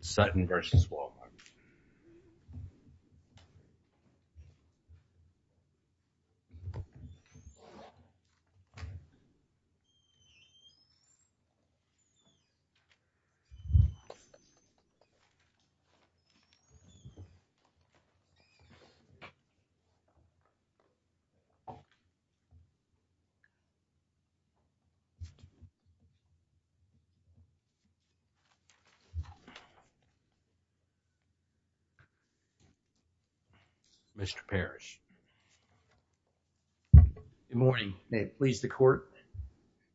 Sutton v. Wal-Mart. Mr. Parrish. Good morning. May it please the court,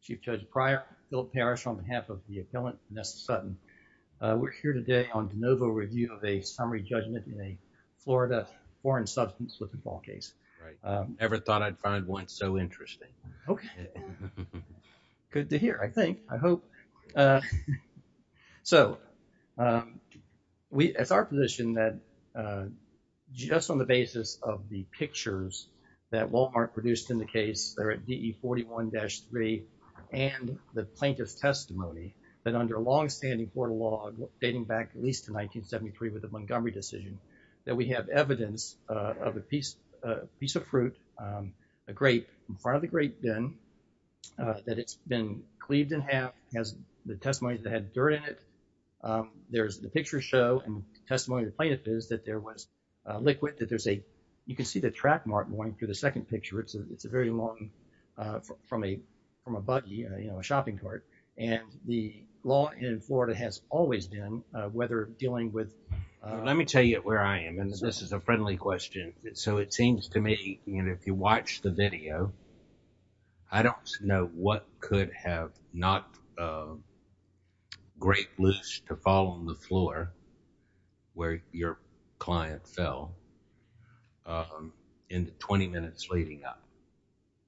Chief Judge Pryor, Philip Parrish, on behalf of the appellant Vanessa Sutton. We're here today on de novo review of a summary judgment in a Florida foreign substance with a ball case. Right. Never thought I'd find one so interesting. Okay. Good to hear. I think. I hope. So, uh, so, um, we, it's our position that, uh, just on the basis of the pictures that Wal-Mart produced in the case there at DE 41-3 and the plaintiff's testimony that under a longstanding Florida law dating back at least to 1973 with the Montgomery decision that we have evidence, uh, of a piece, a piece of fruit, um, a grape in front of the grape bin, uh, that it's been cleaved in half, has the testimonies that had dirt in it. Um, there's the picture show and testimony to plaintiff is that there was a liquid, that there's a, you can see the track mark going through the second picture. It's a, it's a very long, uh, from a, from a buggy, you know, a shopping cart and the law in Florida has always been, uh, whether dealing with, uh. Let me tell you where I am and this is a friendly question. So, it seems to me, you know, if you watch the video, I don't know what could have not, uh, grape loose to fall on the floor where your client fell, um, in the 20 minutes leading up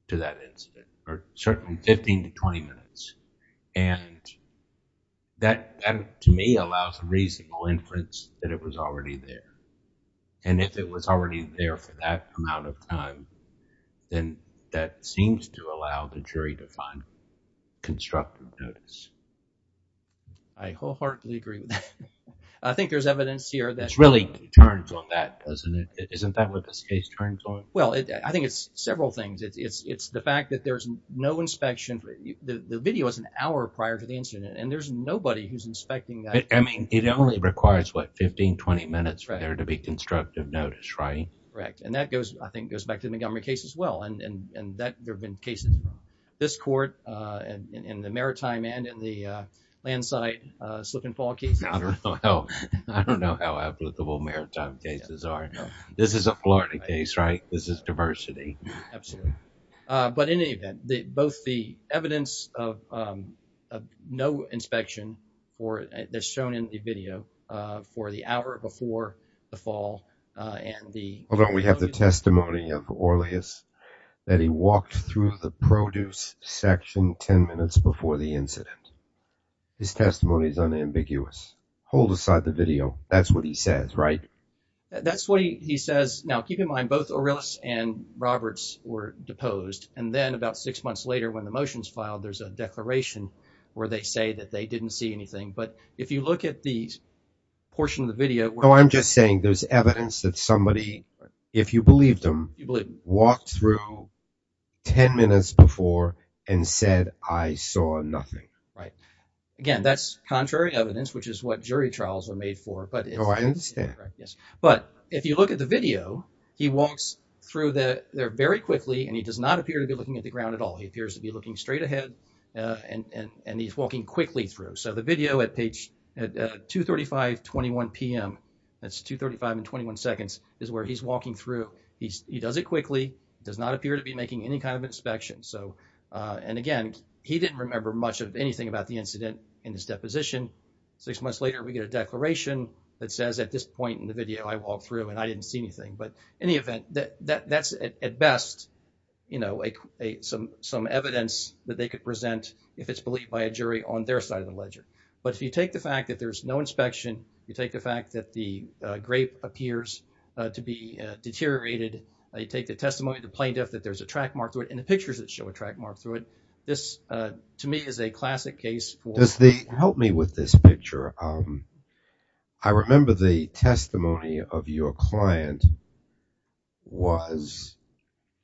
to that incident or certainly 15 to 20 minutes. And that to me allows a reasonable inference that it was already there. And if it was already there for that amount of time, then that seems to allow the jury to find constructive notice. I wholeheartedly agree with that. I think there's evidence here that really turns on that, doesn't it? Isn't that what this case turns on? Well, I think it's several things. It's, it's, it's the fact that there's no inspection. The video is an hour prior to the incident and there's nobody who's inspecting that. I mean, it only requires, what, 15, 20 minutes for there to be constructive notice, right? Correct. And that goes, I think, goes back to the Montgomery case as well and, and, and that there've been cases in this court, uh, and in the Maritime and in the, uh, Landsite, uh, slip and fall cases. I don't know how, I don't know how applicable Maritime cases are. This is a Florida case, right? This is diversity. Absolutely. Uh, but in any event, the, both the evidence of, um, of no inspection or they're shown in the video, uh, for the hour before the fall, uh, and the... Hold on. We have the testimony of Aurelius that he walked through the produce section 10 minutes before the incident. His testimony is unambiguous. Hold aside the video. That's what he says, right? That's what he says. Now keep in mind both Aurelius and Roberts were deposed and then about six months later when the motion's filed, there's a declaration where they say that they didn't see anything. But if you look at the portion of the video where... Oh, I'm just saying there's evidence that somebody, if you believe them, walked through 10 minutes before and said, I saw nothing. Right. Again, that's contrary evidence, which is what jury trials are made for, but it's... Oh, I understand. Right. So in the video, he walks through there very quickly and he does not appear to be looking at the ground at all. He appears to be looking straight ahead, uh, and, and, and he's walking quickly through. So the video at page 235, 21 PM, that's 235 and 21 seconds is where he's walking through. He's, he does it quickly, does not appear to be making any kind of inspection. So, uh, and again, he didn't remember much of anything about the incident in his deposition. Six months later, we get a declaration that says at this point in the video, I walked through and I didn't see anything, but in the event that that's at best, you know, some, some evidence that they could present if it's believed by a jury on their side of the ledger. But if you take the fact that there's no inspection, you take the fact that the, uh, grape appears to be deteriorated, you take the testimony of the plaintiff, that there's a track mark through it, and the pictures that show a track mark through it, this, uh, to me is a classic case for... Does the... Help me with this picture. Um, I remember the testimony of your client was,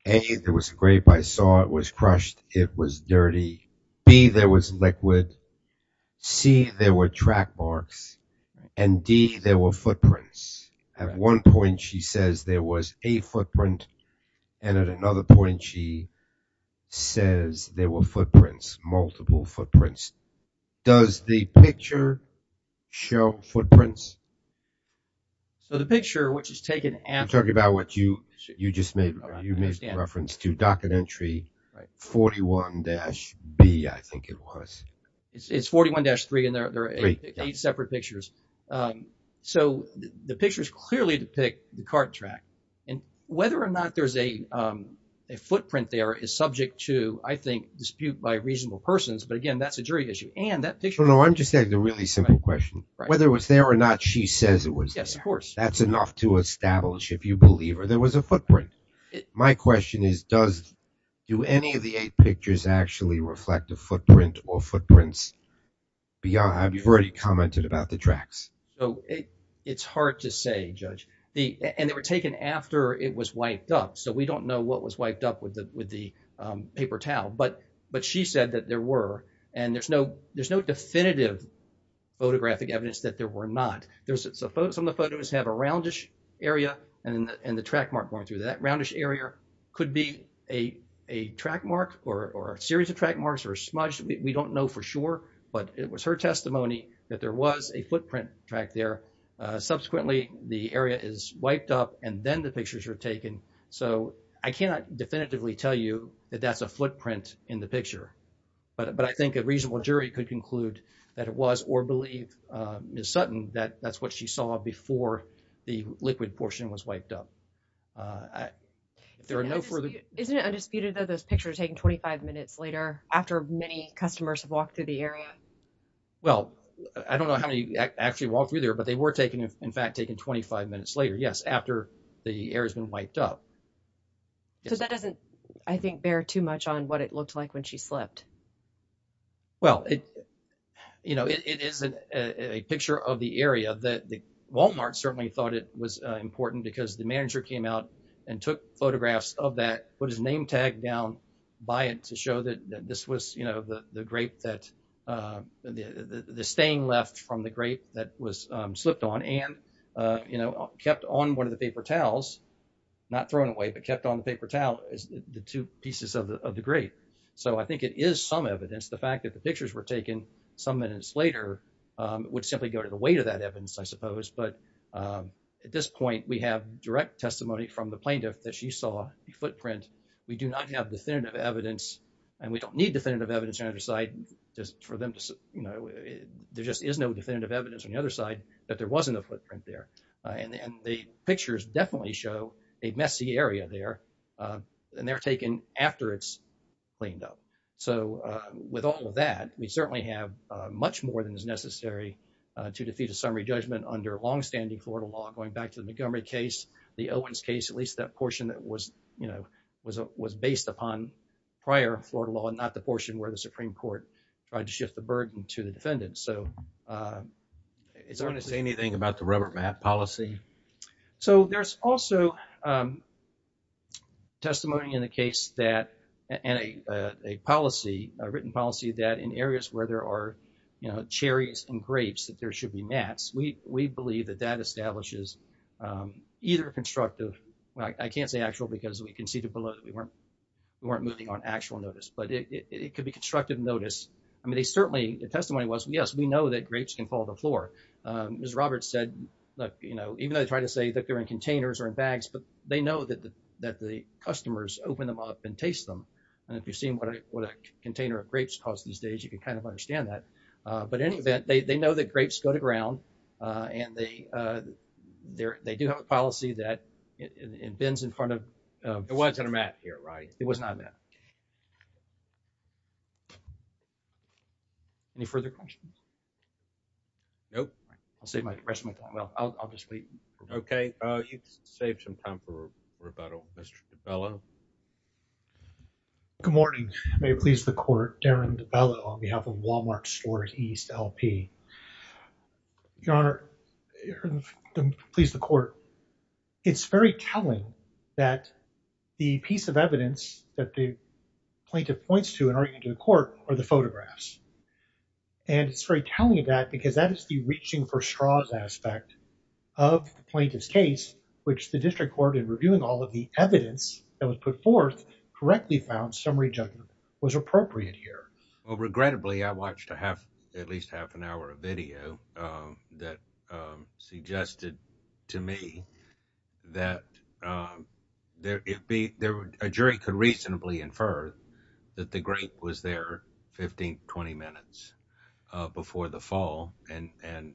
A, there was a grape, I saw it was crushed, it was dirty, B, there was liquid, C, there were track marks, and D, there were footprints. At one point she says there was a footprint, and at another point she says there were footprints, multiple footprints. Does the picture show footprints? So the picture, which is taken after... You're talking about what you, you just made, you made reference to docket entry 41-B, I think it was. It's 41-3, and there are eight separate pictures. So the pictures clearly depict the cart track, and whether or not there's a, um, a footprint there is subject to, I think, dispute by reasonable persons, but again, that's a jury issue. And that picture... No, no, I'm just asking a really simple question. Right. Whether it was there or not, she says it was there. Yes, of course. That's enough to establish, if you believe her, there was a footprint. My question is, does, do any of the eight pictures actually reflect a footprint or footprints beyond... You've already commented about the tracks. So, it's hard to say, Judge. And they were taken after it was wiped up, so we don't know what was wiped up with the paper towel. But, but she said that there were, and there's no, there's no definitive photographic evidence that there were not. There's, some of the photos have a roundish area, and the track mark going through that roundish area could be a, a track mark, or a series of track marks, or a smudge. We don't know for sure, but it was her testimony that there was a footprint track there. Subsequently, the area is wiped up, and then the pictures are taken. So, I cannot definitively tell you that that's a footprint in the picture, but, but I think a reasonable jury could conclude that it was, or believe Ms. Sutton, that that's what she saw before the liquid portion was wiped up. There are no further... Isn't it undisputed that those pictures were taken 25 minutes later, after many customers have walked through the area? Well, I don't know how many actually walked through there, but they were taken, in fact, taken 25 minutes later. Yes, after the area's been wiped up. So, that doesn't, I think, bear too much on what it looked like when she slipped. Well, it, you know, it is a picture of the area that the, Walmart certainly thought it was important because the manager came out and took photographs of that, put his name tag down by it to show that this was, you know, the grape that, the stain left from the grape that was slipped on and, you know, kept on one of the paper towels, not thrown away, but kept on the paper towel is the two pieces of the grape. So, I think it is some evidence. The fact that the pictures were taken some minutes later would simply go to the weight of that evidence, I suppose. But at this point, we have direct testimony from the plaintiff that she saw the footprint. We do not have definitive evidence and we don't need definitive evidence to decide just for them to, you know, there just is no definitive evidence on the other side that there wasn't a footprint there. And the pictures definitely show a messy area there and they're taken after it's cleaned up. So, with all of that, we certainly have much more than is necessary to defeat a summary judgment under longstanding Florida law, going back to the Montgomery case, the Owens case, at least that portion that was, you know, was based upon prior Florida law and not the plaintiff, the burden to the defendant. So, it's hard to say anything about the rubber mat policy. So, there's also testimony in the case that, and a policy, a written policy that in areas where there are, you know, cherries and grapes, that there should be mats. We believe that that establishes either constructive, I can't say actual because we conceded below that we weren't moving on actual notice, but it could be constructive notice. I mean, they certainly, the testimony was, yes, we know that grapes can fall to the floor. Ms. Roberts said, look, you know, even though they try to say that they're in containers or in bags, but they know that the customers open them up and taste them. And if you've seen what a container of grapes costs these days, you can kind of understand that. But in any event, they know that grapes go to ground and they do have a policy that it bends in front of... It wasn't a mat here, right? It was not a mat. Any further questions? Nope. I'll save my, rest of my time. Well, I'll just wait. Okay. You've saved some time for rebuttal. Mr. DiBello. Good morning. May it please the court, Darren DiBello on behalf of Walmart Store East LP. Your Honor, please the court. It's very telling that the piece of evidence that the plaintiff points to in arguing to court are the photographs. And it's very telling of that because that is the reaching for straws aspect of the plaintiff's case, which the district court in reviewing all of the evidence that was put forth correctly found summary judgment was appropriate here. Well, regrettably, I watched a half, at least half an hour of video that suggested to me that a jury could reasonably infer that the grape was there 15, 20 minutes before the fall and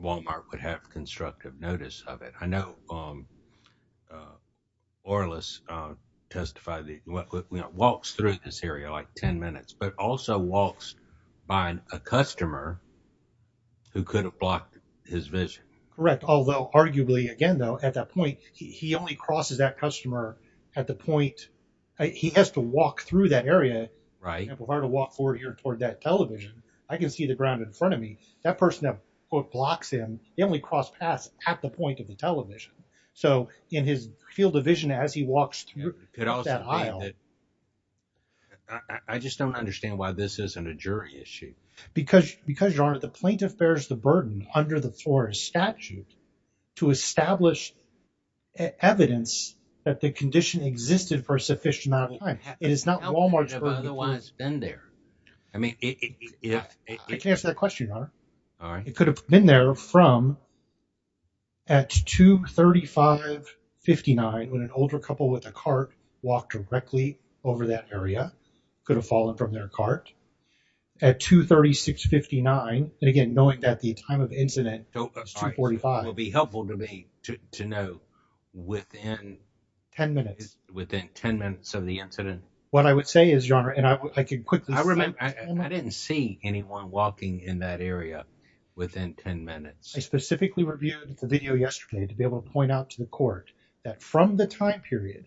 Walmart would have constructive notice of it. I know Orlis testified, walks through this area like 10 minutes, but also walks by a customer who could have blocked his vision. Correct. Although arguably again, though, at that point, he only crosses that customer at the point. He has to walk through that area. Right. If I were to walk forward here toward that television, I can see the ground in front of me. That person that blocks him, he only crossed paths at the point of the television. So in his field of vision, as he walks through that aisle. I just don't understand why this isn't a jury issue. Because, Your Honor, the plaintiff bears the burden under the Flores statute to establish evidence that the condition existed for a sufficient amount of time. It is not Walmart's burden. How could it have otherwise been there? I mean, it, yeah. I can't answer that question, Your Honor. All right. It could have been there from at 2.3559 when an older couple with a cart walked directly over that area, could have fallen from their cart. At 2.3659. And again, knowing that the time of incident is 2.45. It would be helpful to me to know within. 10 minutes. Within 10 minutes of the incident. What I would say is, Your Honor, and I could quickly. I didn't see anyone walking in that area within 10 minutes. I specifically reviewed the video yesterday to be able to point out to the court that from the time period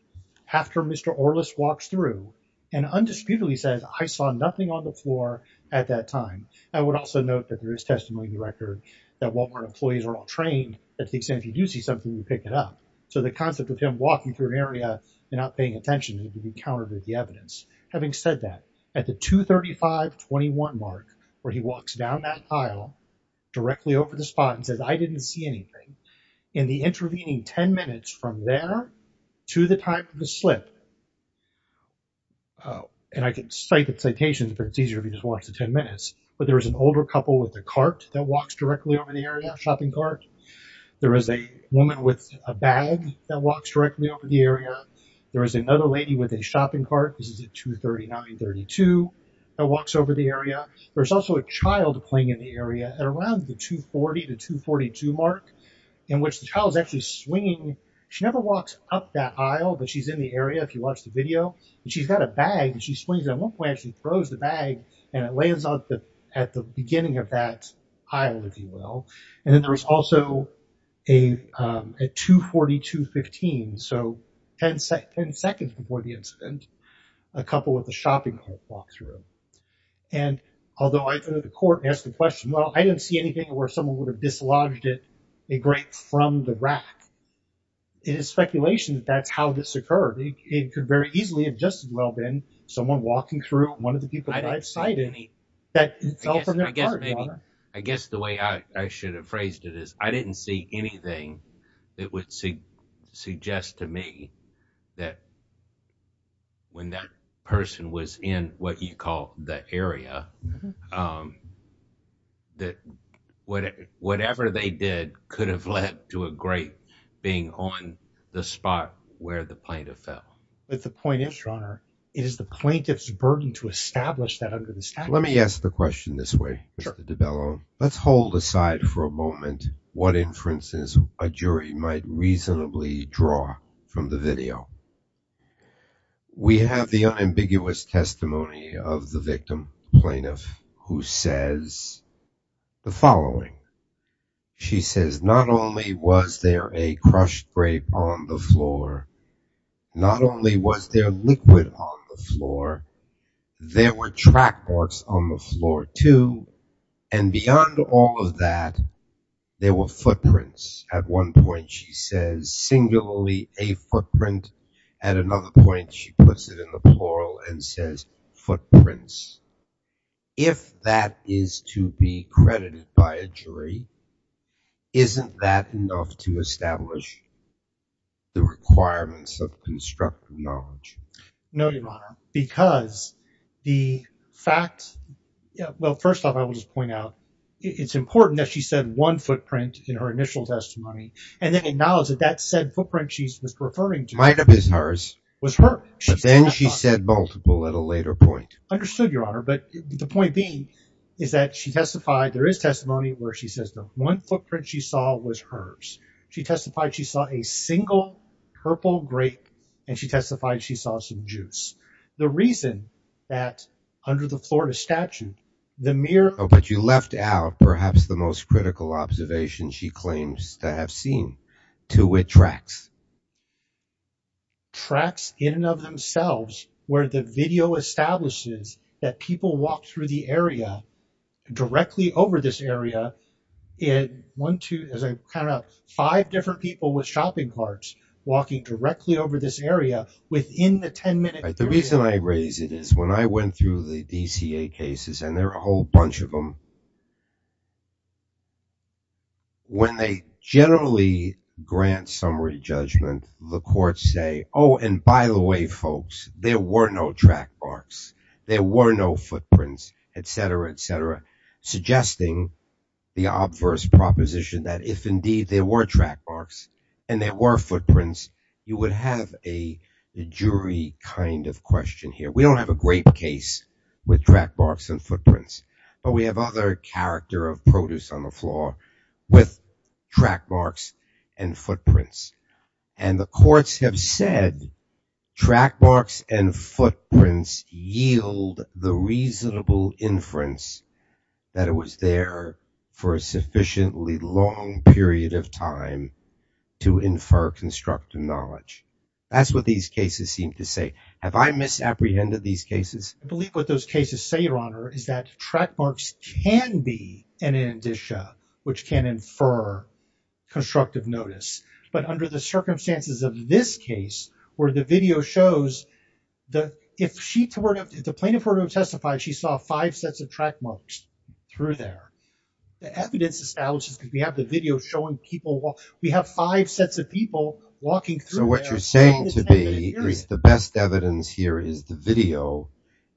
after Mr. Orlis walks through and undisputedly says, I saw nothing on the floor at that time. I would also note that there is testimony in the record that Walmart employees are all trained that if you do see something, you pick it up. So the concept of him walking through an area and not paying attention would be countered with the evidence. Having said that, at the 2.3521 mark, where he walks down that aisle directly over the spot and says, I didn't see anything. In the intervening 10 minutes from there to the time of the slip. And I can cite the citations, but it's easier if you just watch the 10 minutes. But there is an older couple with a cart that walks directly over the area, a shopping cart. There is a woman with a bag that walks directly over the area. There is another lady with a shopping cart. This is at 2.3932 that walks over the area. There's also a child playing in the area at around the 2.40 to 2.42 mark, in which the child is actually swinging. She never walks up that aisle, but she's in the area. If you watch the video, she's got a bag and she swings it. At one point, she throws the bag and it lands at the beginning of that aisle, if you will. And then there is also a 2.4215, so 10 seconds before the incident, a couple with a shopping cart walk through. And although I've been at the court and asked the question, well, I didn't see anything where someone would have dislodged it, a grape from the rack. It is speculation that that's how this occurred. It could very easily have just as well been someone walking through one of the people that fell from their cart. I guess the way I should have phrased it is, I didn't see anything that would suggest to me that when that person was in what you call the area, that whatever they did could have led to a grape being on the spot where the plaintiff fell. But the point is, Your Honor, it is the plaintiff's burden to establish that under the statute. Let me ask the question this way, Mr. DiBello. Let's hold aside for a moment what inferences a jury might reasonably draw from the video. We have the unambiguous testimony of the victim plaintiff who says the following. She says, not only was there a crushed grape on the floor, not only was there liquid on the floor, there were track marks on the floor too. And beyond all of that, there were footprints. At one point, she says singularly a footprint. At another point, she puts it in the plural and says footprints. If that is to be credited by a jury, isn't that enough to establish the requirements of constructive knowledge? No, Your Honor, because the fact, well, first off, I will just point out, it's important that she said one footprint in her initial testimony and then acknowledged that that said footprint she was referring to was hers. Might have been hers. But then she said multiple at a later point. Understood, Your Honor. But the point being is that she testified there is testimony where she says the one footprint she saw was hers. She testified she saw a single purple grape and she testified she saw some juice. The reason that under the Florida statute, the mirror. But you left out perhaps the most critical observation she claims to have seen. Two, it tracks. Tracks in and of themselves where the video establishes that people walk through the area directly over this area in one, two, as a kind of five different people with shopping carts walking directly over this area within the 10 minute. The reason I raise it is when I went through the DCA cases and there are a whole bunch of them, when they generally grant summary judgment, the courts say, oh, and by the way, folks, there were no track marks. There were no footprints, et cetera, et cetera, suggesting the obverse proposition that if indeed there were track marks and there were footprints, you would have a jury kind of question here. We don't have a great case with track marks and footprints. But we have other character of produce on the floor with track marks and footprints. And the courts have said track marks and footprints yield the reasonable inference that it was there for a sufficiently long period of time to infer constructive knowledge. That's what these cases seem to say. Have I misapprehended these cases? I believe what those cases say, Your Honor, is that track marks can be an indicia, which can infer constructive notice. But under the circumstances of this case, where the video shows the, if she, if the plaintiff were to testify, she saw five sets of track marks through there. The evidence establishes that we have the video showing people, we have five sets of people walking through there. What you're saying to me is the best evidence here is the video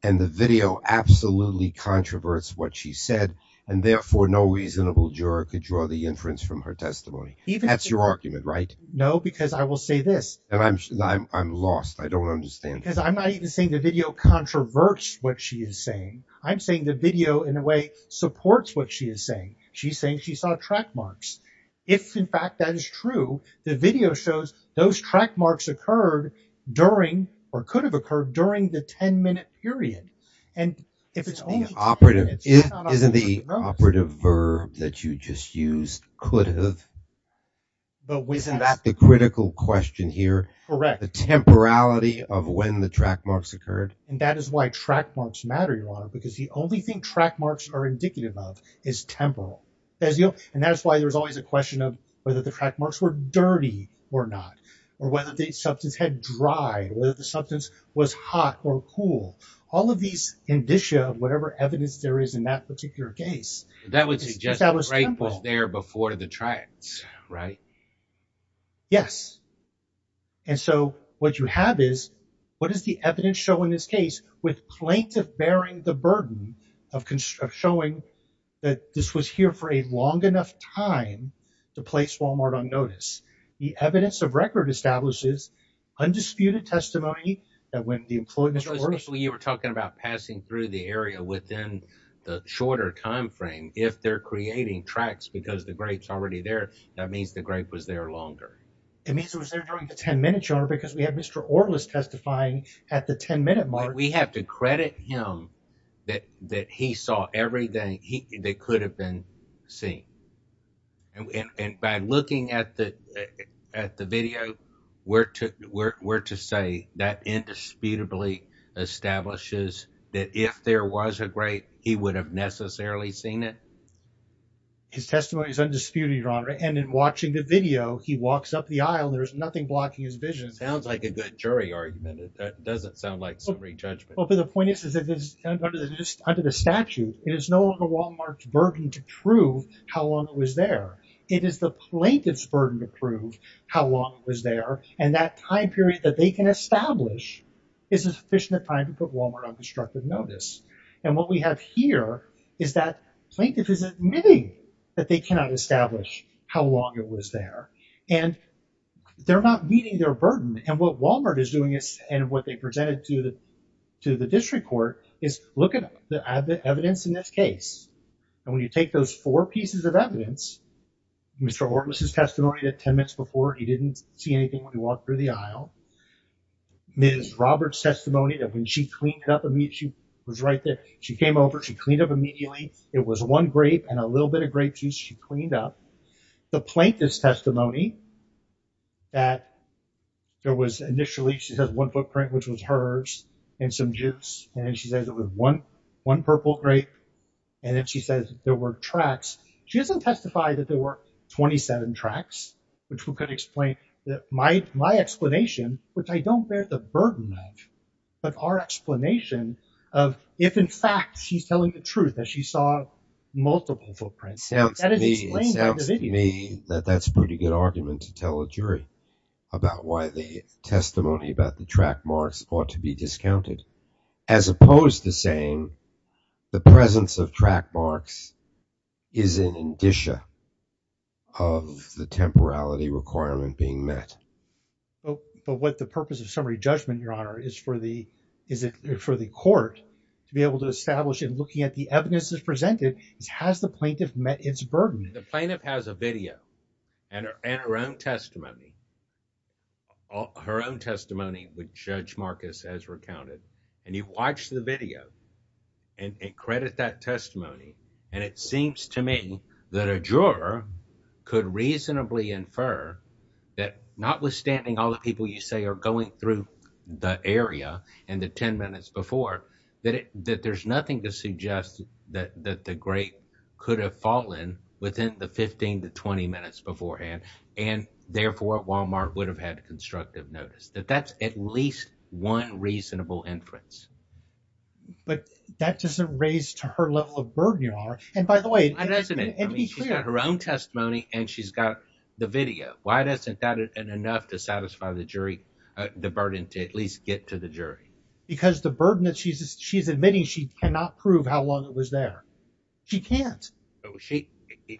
and the video absolutely controverts what she said and therefore no reasonable juror could draw the inference from her testimony. That's your argument, right? No, because I will say this. And I'm, I'm lost. I don't understand. Because I'm not even saying the video controverts what she is saying. I'm saying the video in a way supports what she is saying. She's saying she saw track marks. If in fact that is true, the video shows those track marks occurred during or could have occurred during the 10 minute period. And if it's only operative, isn't the operative verb that you just used could have. But isn't that the critical question here? Correct. The temporality of when the track marks occurred. And that is why track marks matter, Your Honor, because the only thing track marks are indicative of is temporal. And that's why there's always a question of whether the track marks were dirty or not, or whether the substance had dried, whether the substance was hot or cool. All of these indicia of whatever evidence there is in that particular case. That would suggest that was there before to the tracks, right? Yes. And so what you have is what does the evidence show in this case with plaintiff bearing the for a long enough time to place Walmart on notice. The evidence of record establishes undisputed testimony that when the employment. It was when you were talking about passing through the area within the shorter time frame, if they're creating tracks because the grapes already there, that means the grape was there longer. It means it was there during the 10 minutes, Your Honor, because we have Mr. Orlis testifying at the 10 minute mark. We have to credit him that he saw everything that could have been seen. And by looking at the video, we're to say that indisputably establishes that if there was a grape, he would have necessarily seen it. His testimony is undisputed, Your Honor. And in watching the video, he walks up the aisle. There's nothing blocking his vision. It sounds like a good jury argument. That doesn't sound like summary judgment. But the point is, is that under the statute, it is no longer Walmart's burden to prove how long it was there. It is the plaintiff's burden to prove how long it was there. And that time period that they can establish is sufficient time to put Walmart on destructive notice. And what we have here is that plaintiff is admitting that they cannot establish how long it was there. And they're not meeting their burden. And what Walmart is doing is, and what they presented to the district court, is look at the evidence in this case. And when you take those four pieces of evidence, Mr. Orlus' testimony that 10 minutes before he didn't see anything when he walked through the aisle, Ms. Roberts' testimony that when she cleaned up, she was right there. She came over, she cleaned up immediately. It was one grape and a little bit of grape juice she cleaned up. The plaintiff's testimony that there was initially, she has one footprint, which was hers and some juice. And she says it was one purple grape. And then she says there were tracks. She hasn't testified that there were 27 tracks, which we could explain that my explanation, which I don't bear the burden of, but our explanation of if in fact she's telling the truth that she saw multiple footprints. It sounds to me that that's a pretty good argument to tell a jury about why the testimony about the track marks ought to be discounted. As opposed to saying the presence of track marks is an indicia of the temporality requirement being met. But what the purpose of summary judgment, Your Honor, is for the court to be able to The plaintiff has a video and her own testimony. Her own testimony, which Judge Marcus has recounted, and you watch the video and credit that testimony. And it seems to me that a juror could reasonably infer that notwithstanding all the people you say are going through the area and the 10 minutes before, that there's nothing to within the 15 to 20 minutes beforehand. And therefore, Walmart would have had a constructive notice that that's at least one reasonable inference. But that doesn't raise to her level of burden, Your Honor. And by the way, her own testimony, and she's got the video. Why doesn't that enough to satisfy the jury, the burden to at least get to the jury? Because the burden that she's she's admitting she cannot prove how long it was there. She can't.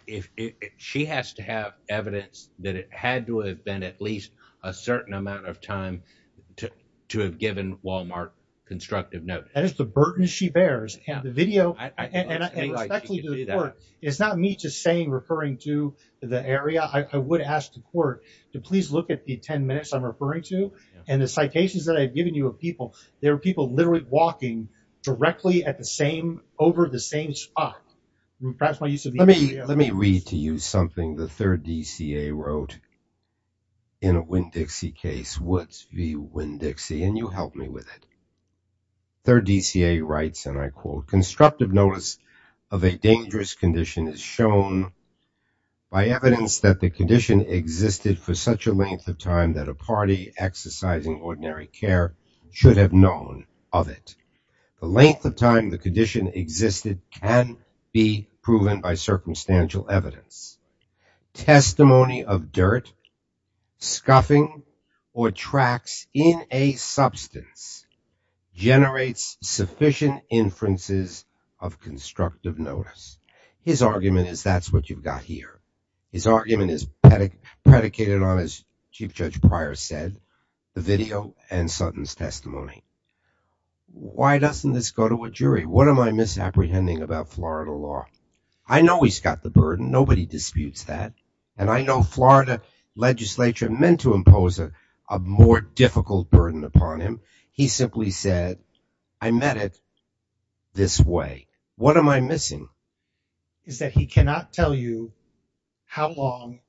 If she has to have evidence that it had to have been at least a certain amount of time to have given Walmart constructive note, that is the burden she bears. And the video is not me just saying, referring to the area. I would ask the court to please look at the 10 minutes I'm referring to. And the citations that I've given you of people, there are people literally walking directly at the same over the same spot. Let me let me read to you something the third DCA wrote. In a Winn-Dixie case, Woods v. Winn-Dixie, and you help me with it. Third DCA writes, and I quote, constructive notice of a dangerous condition is shown by evidence that the condition existed for such a length of time that a party exercising ordinary care should have known of it. The length of time the condition existed can be proven by circumstantial evidence. Testimony of dirt, scuffing, or tracks in a substance generates sufficient inferences of constructive notice. His argument is that's what you've got here. His argument is predicated on, as Chief Judge Pryor said, the video and Sutton's testimony. Why doesn't this go to a jury? What am I misapprehending about Florida law? I know he's got the burden. Nobody disputes that. And I know Florida legislature meant to impose a more difficult burden upon him. He simply said, I met it this way. What am I missing? Is that he cannot tell you how long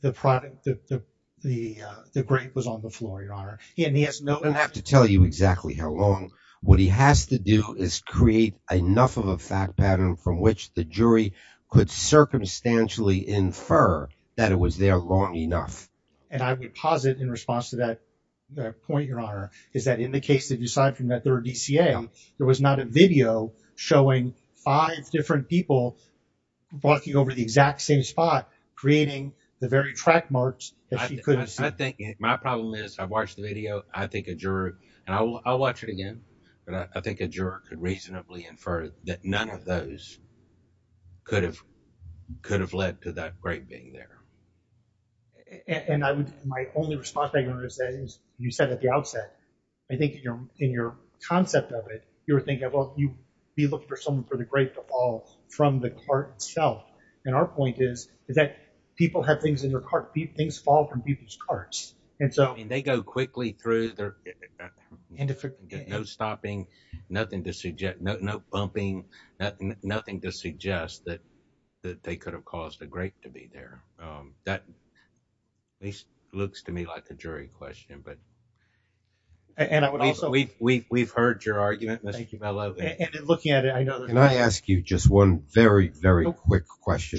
the product, the grape was on the floor, Your Honor. I don't have to tell you exactly how long. What he has to do is create enough of a fact pattern from which the jury could circumstantially infer that it was there long enough. And I would posit in response to that point, Your Honor, is that in the case that you cited from that third DCA, there was not a video showing five different people walking over the exact same spot, creating the very track marks that she couldn't see. My problem is I've watched the video. I think a juror, and I'll watch it again, but I think a juror could reasonably infer that none of those could have led to that grape being there. And my only response, Your Honor, is that you said at the outset, I think in your concept of it, you were thinking, well, you'd be looking for someone for the grape to fall from the cart itself. And our point is that people have things in their cart. Things fall from people's carts. And so they go quickly through there and no stopping, nothing to suggest, no bumping, nothing to suggest that they could have caused the grape to be there. That at least looks to me like a jury question. But we've heard your argument. Thank you. I love looking at it. I know. And I ask you just one very, very quick question.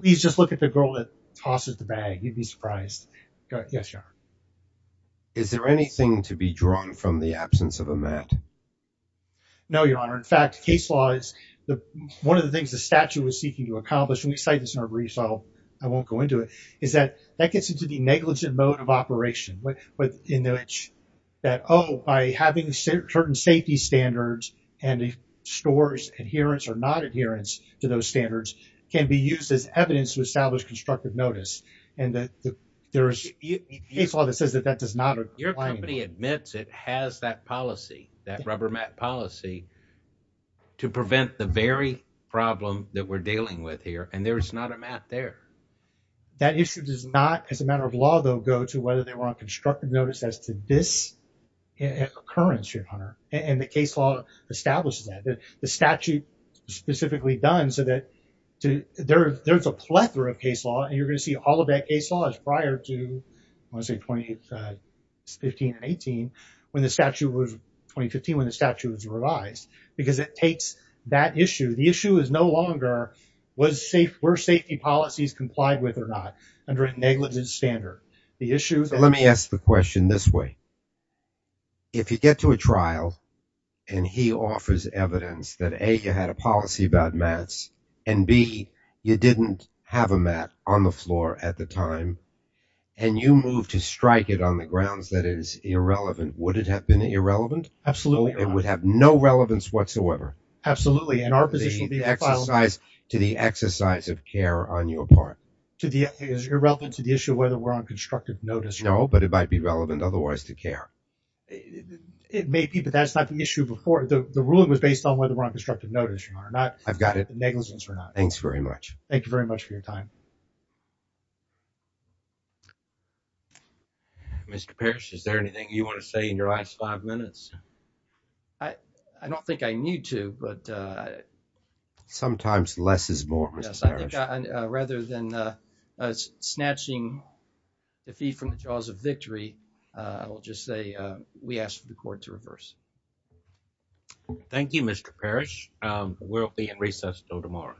Please just look at the girl that tosses the bag. You'd be surprised. Yes, Your Honor. Is there anything to be drawn from the absence of a mat? No, Your Honor. In fact, case law is one of the things the statute was seeking to accomplish, and we cite this in our briefs, so I won't go into it, is that that gets into the negligent mode of operation, in which that, oh, by having certain safety standards and the store's adherence or not adherence to those standards can be used as evidence to establish constructive notice. And there is case law that says that that does not apply. Your company admits it has that policy, that rubber mat policy, to prevent the very problem that we're dealing with here. And there is not a mat there. That issue does not, as a matter of law, though, go to whether they were on constructive notice as to this occurrence, Your Honor. And the case law establishes that. The statute is specifically done so that there's a plethora of case law, and you're going to see all of that case law is prior to, I want to say, 2015 and 18, when the statute was, 2015, when the statute was revised, because it takes that issue. The issue is no longer was safe, were safety policies complied with or not under a negligent standard. The issue is- Let me ask the question this way. If you get to a trial and he offers evidence that A, you had a policy about mats, and B, you didn't have a mat on the floor at the time, and you move to strike it on the grounds that it is irrelevant, would it have been irrelevant? Absolutely. It would have no relevance whatsoever. Absolutely. And our position would be to file a- To the exercise of care on your part. To the, irrelevant to the issue of whether we're on constructive notice. No, but it might be relevant otherwise to care. It may be, but that's not the issue before. The ruling was based on whether we're on constructive notice or not. I've got it. Negligence or not. Thanks very much. Thank you very much for your time. Mr. Parrish, is there anything you want to say in your last five minutes? I don't think I need to, but- Sometimes less is more, Mr. Parrish. Rather than snatching the feed from the jaws of victory, I'll just say we ask for the court to reverse. Thank you, Mr. Parrish. We'll be in recess until tomorrow.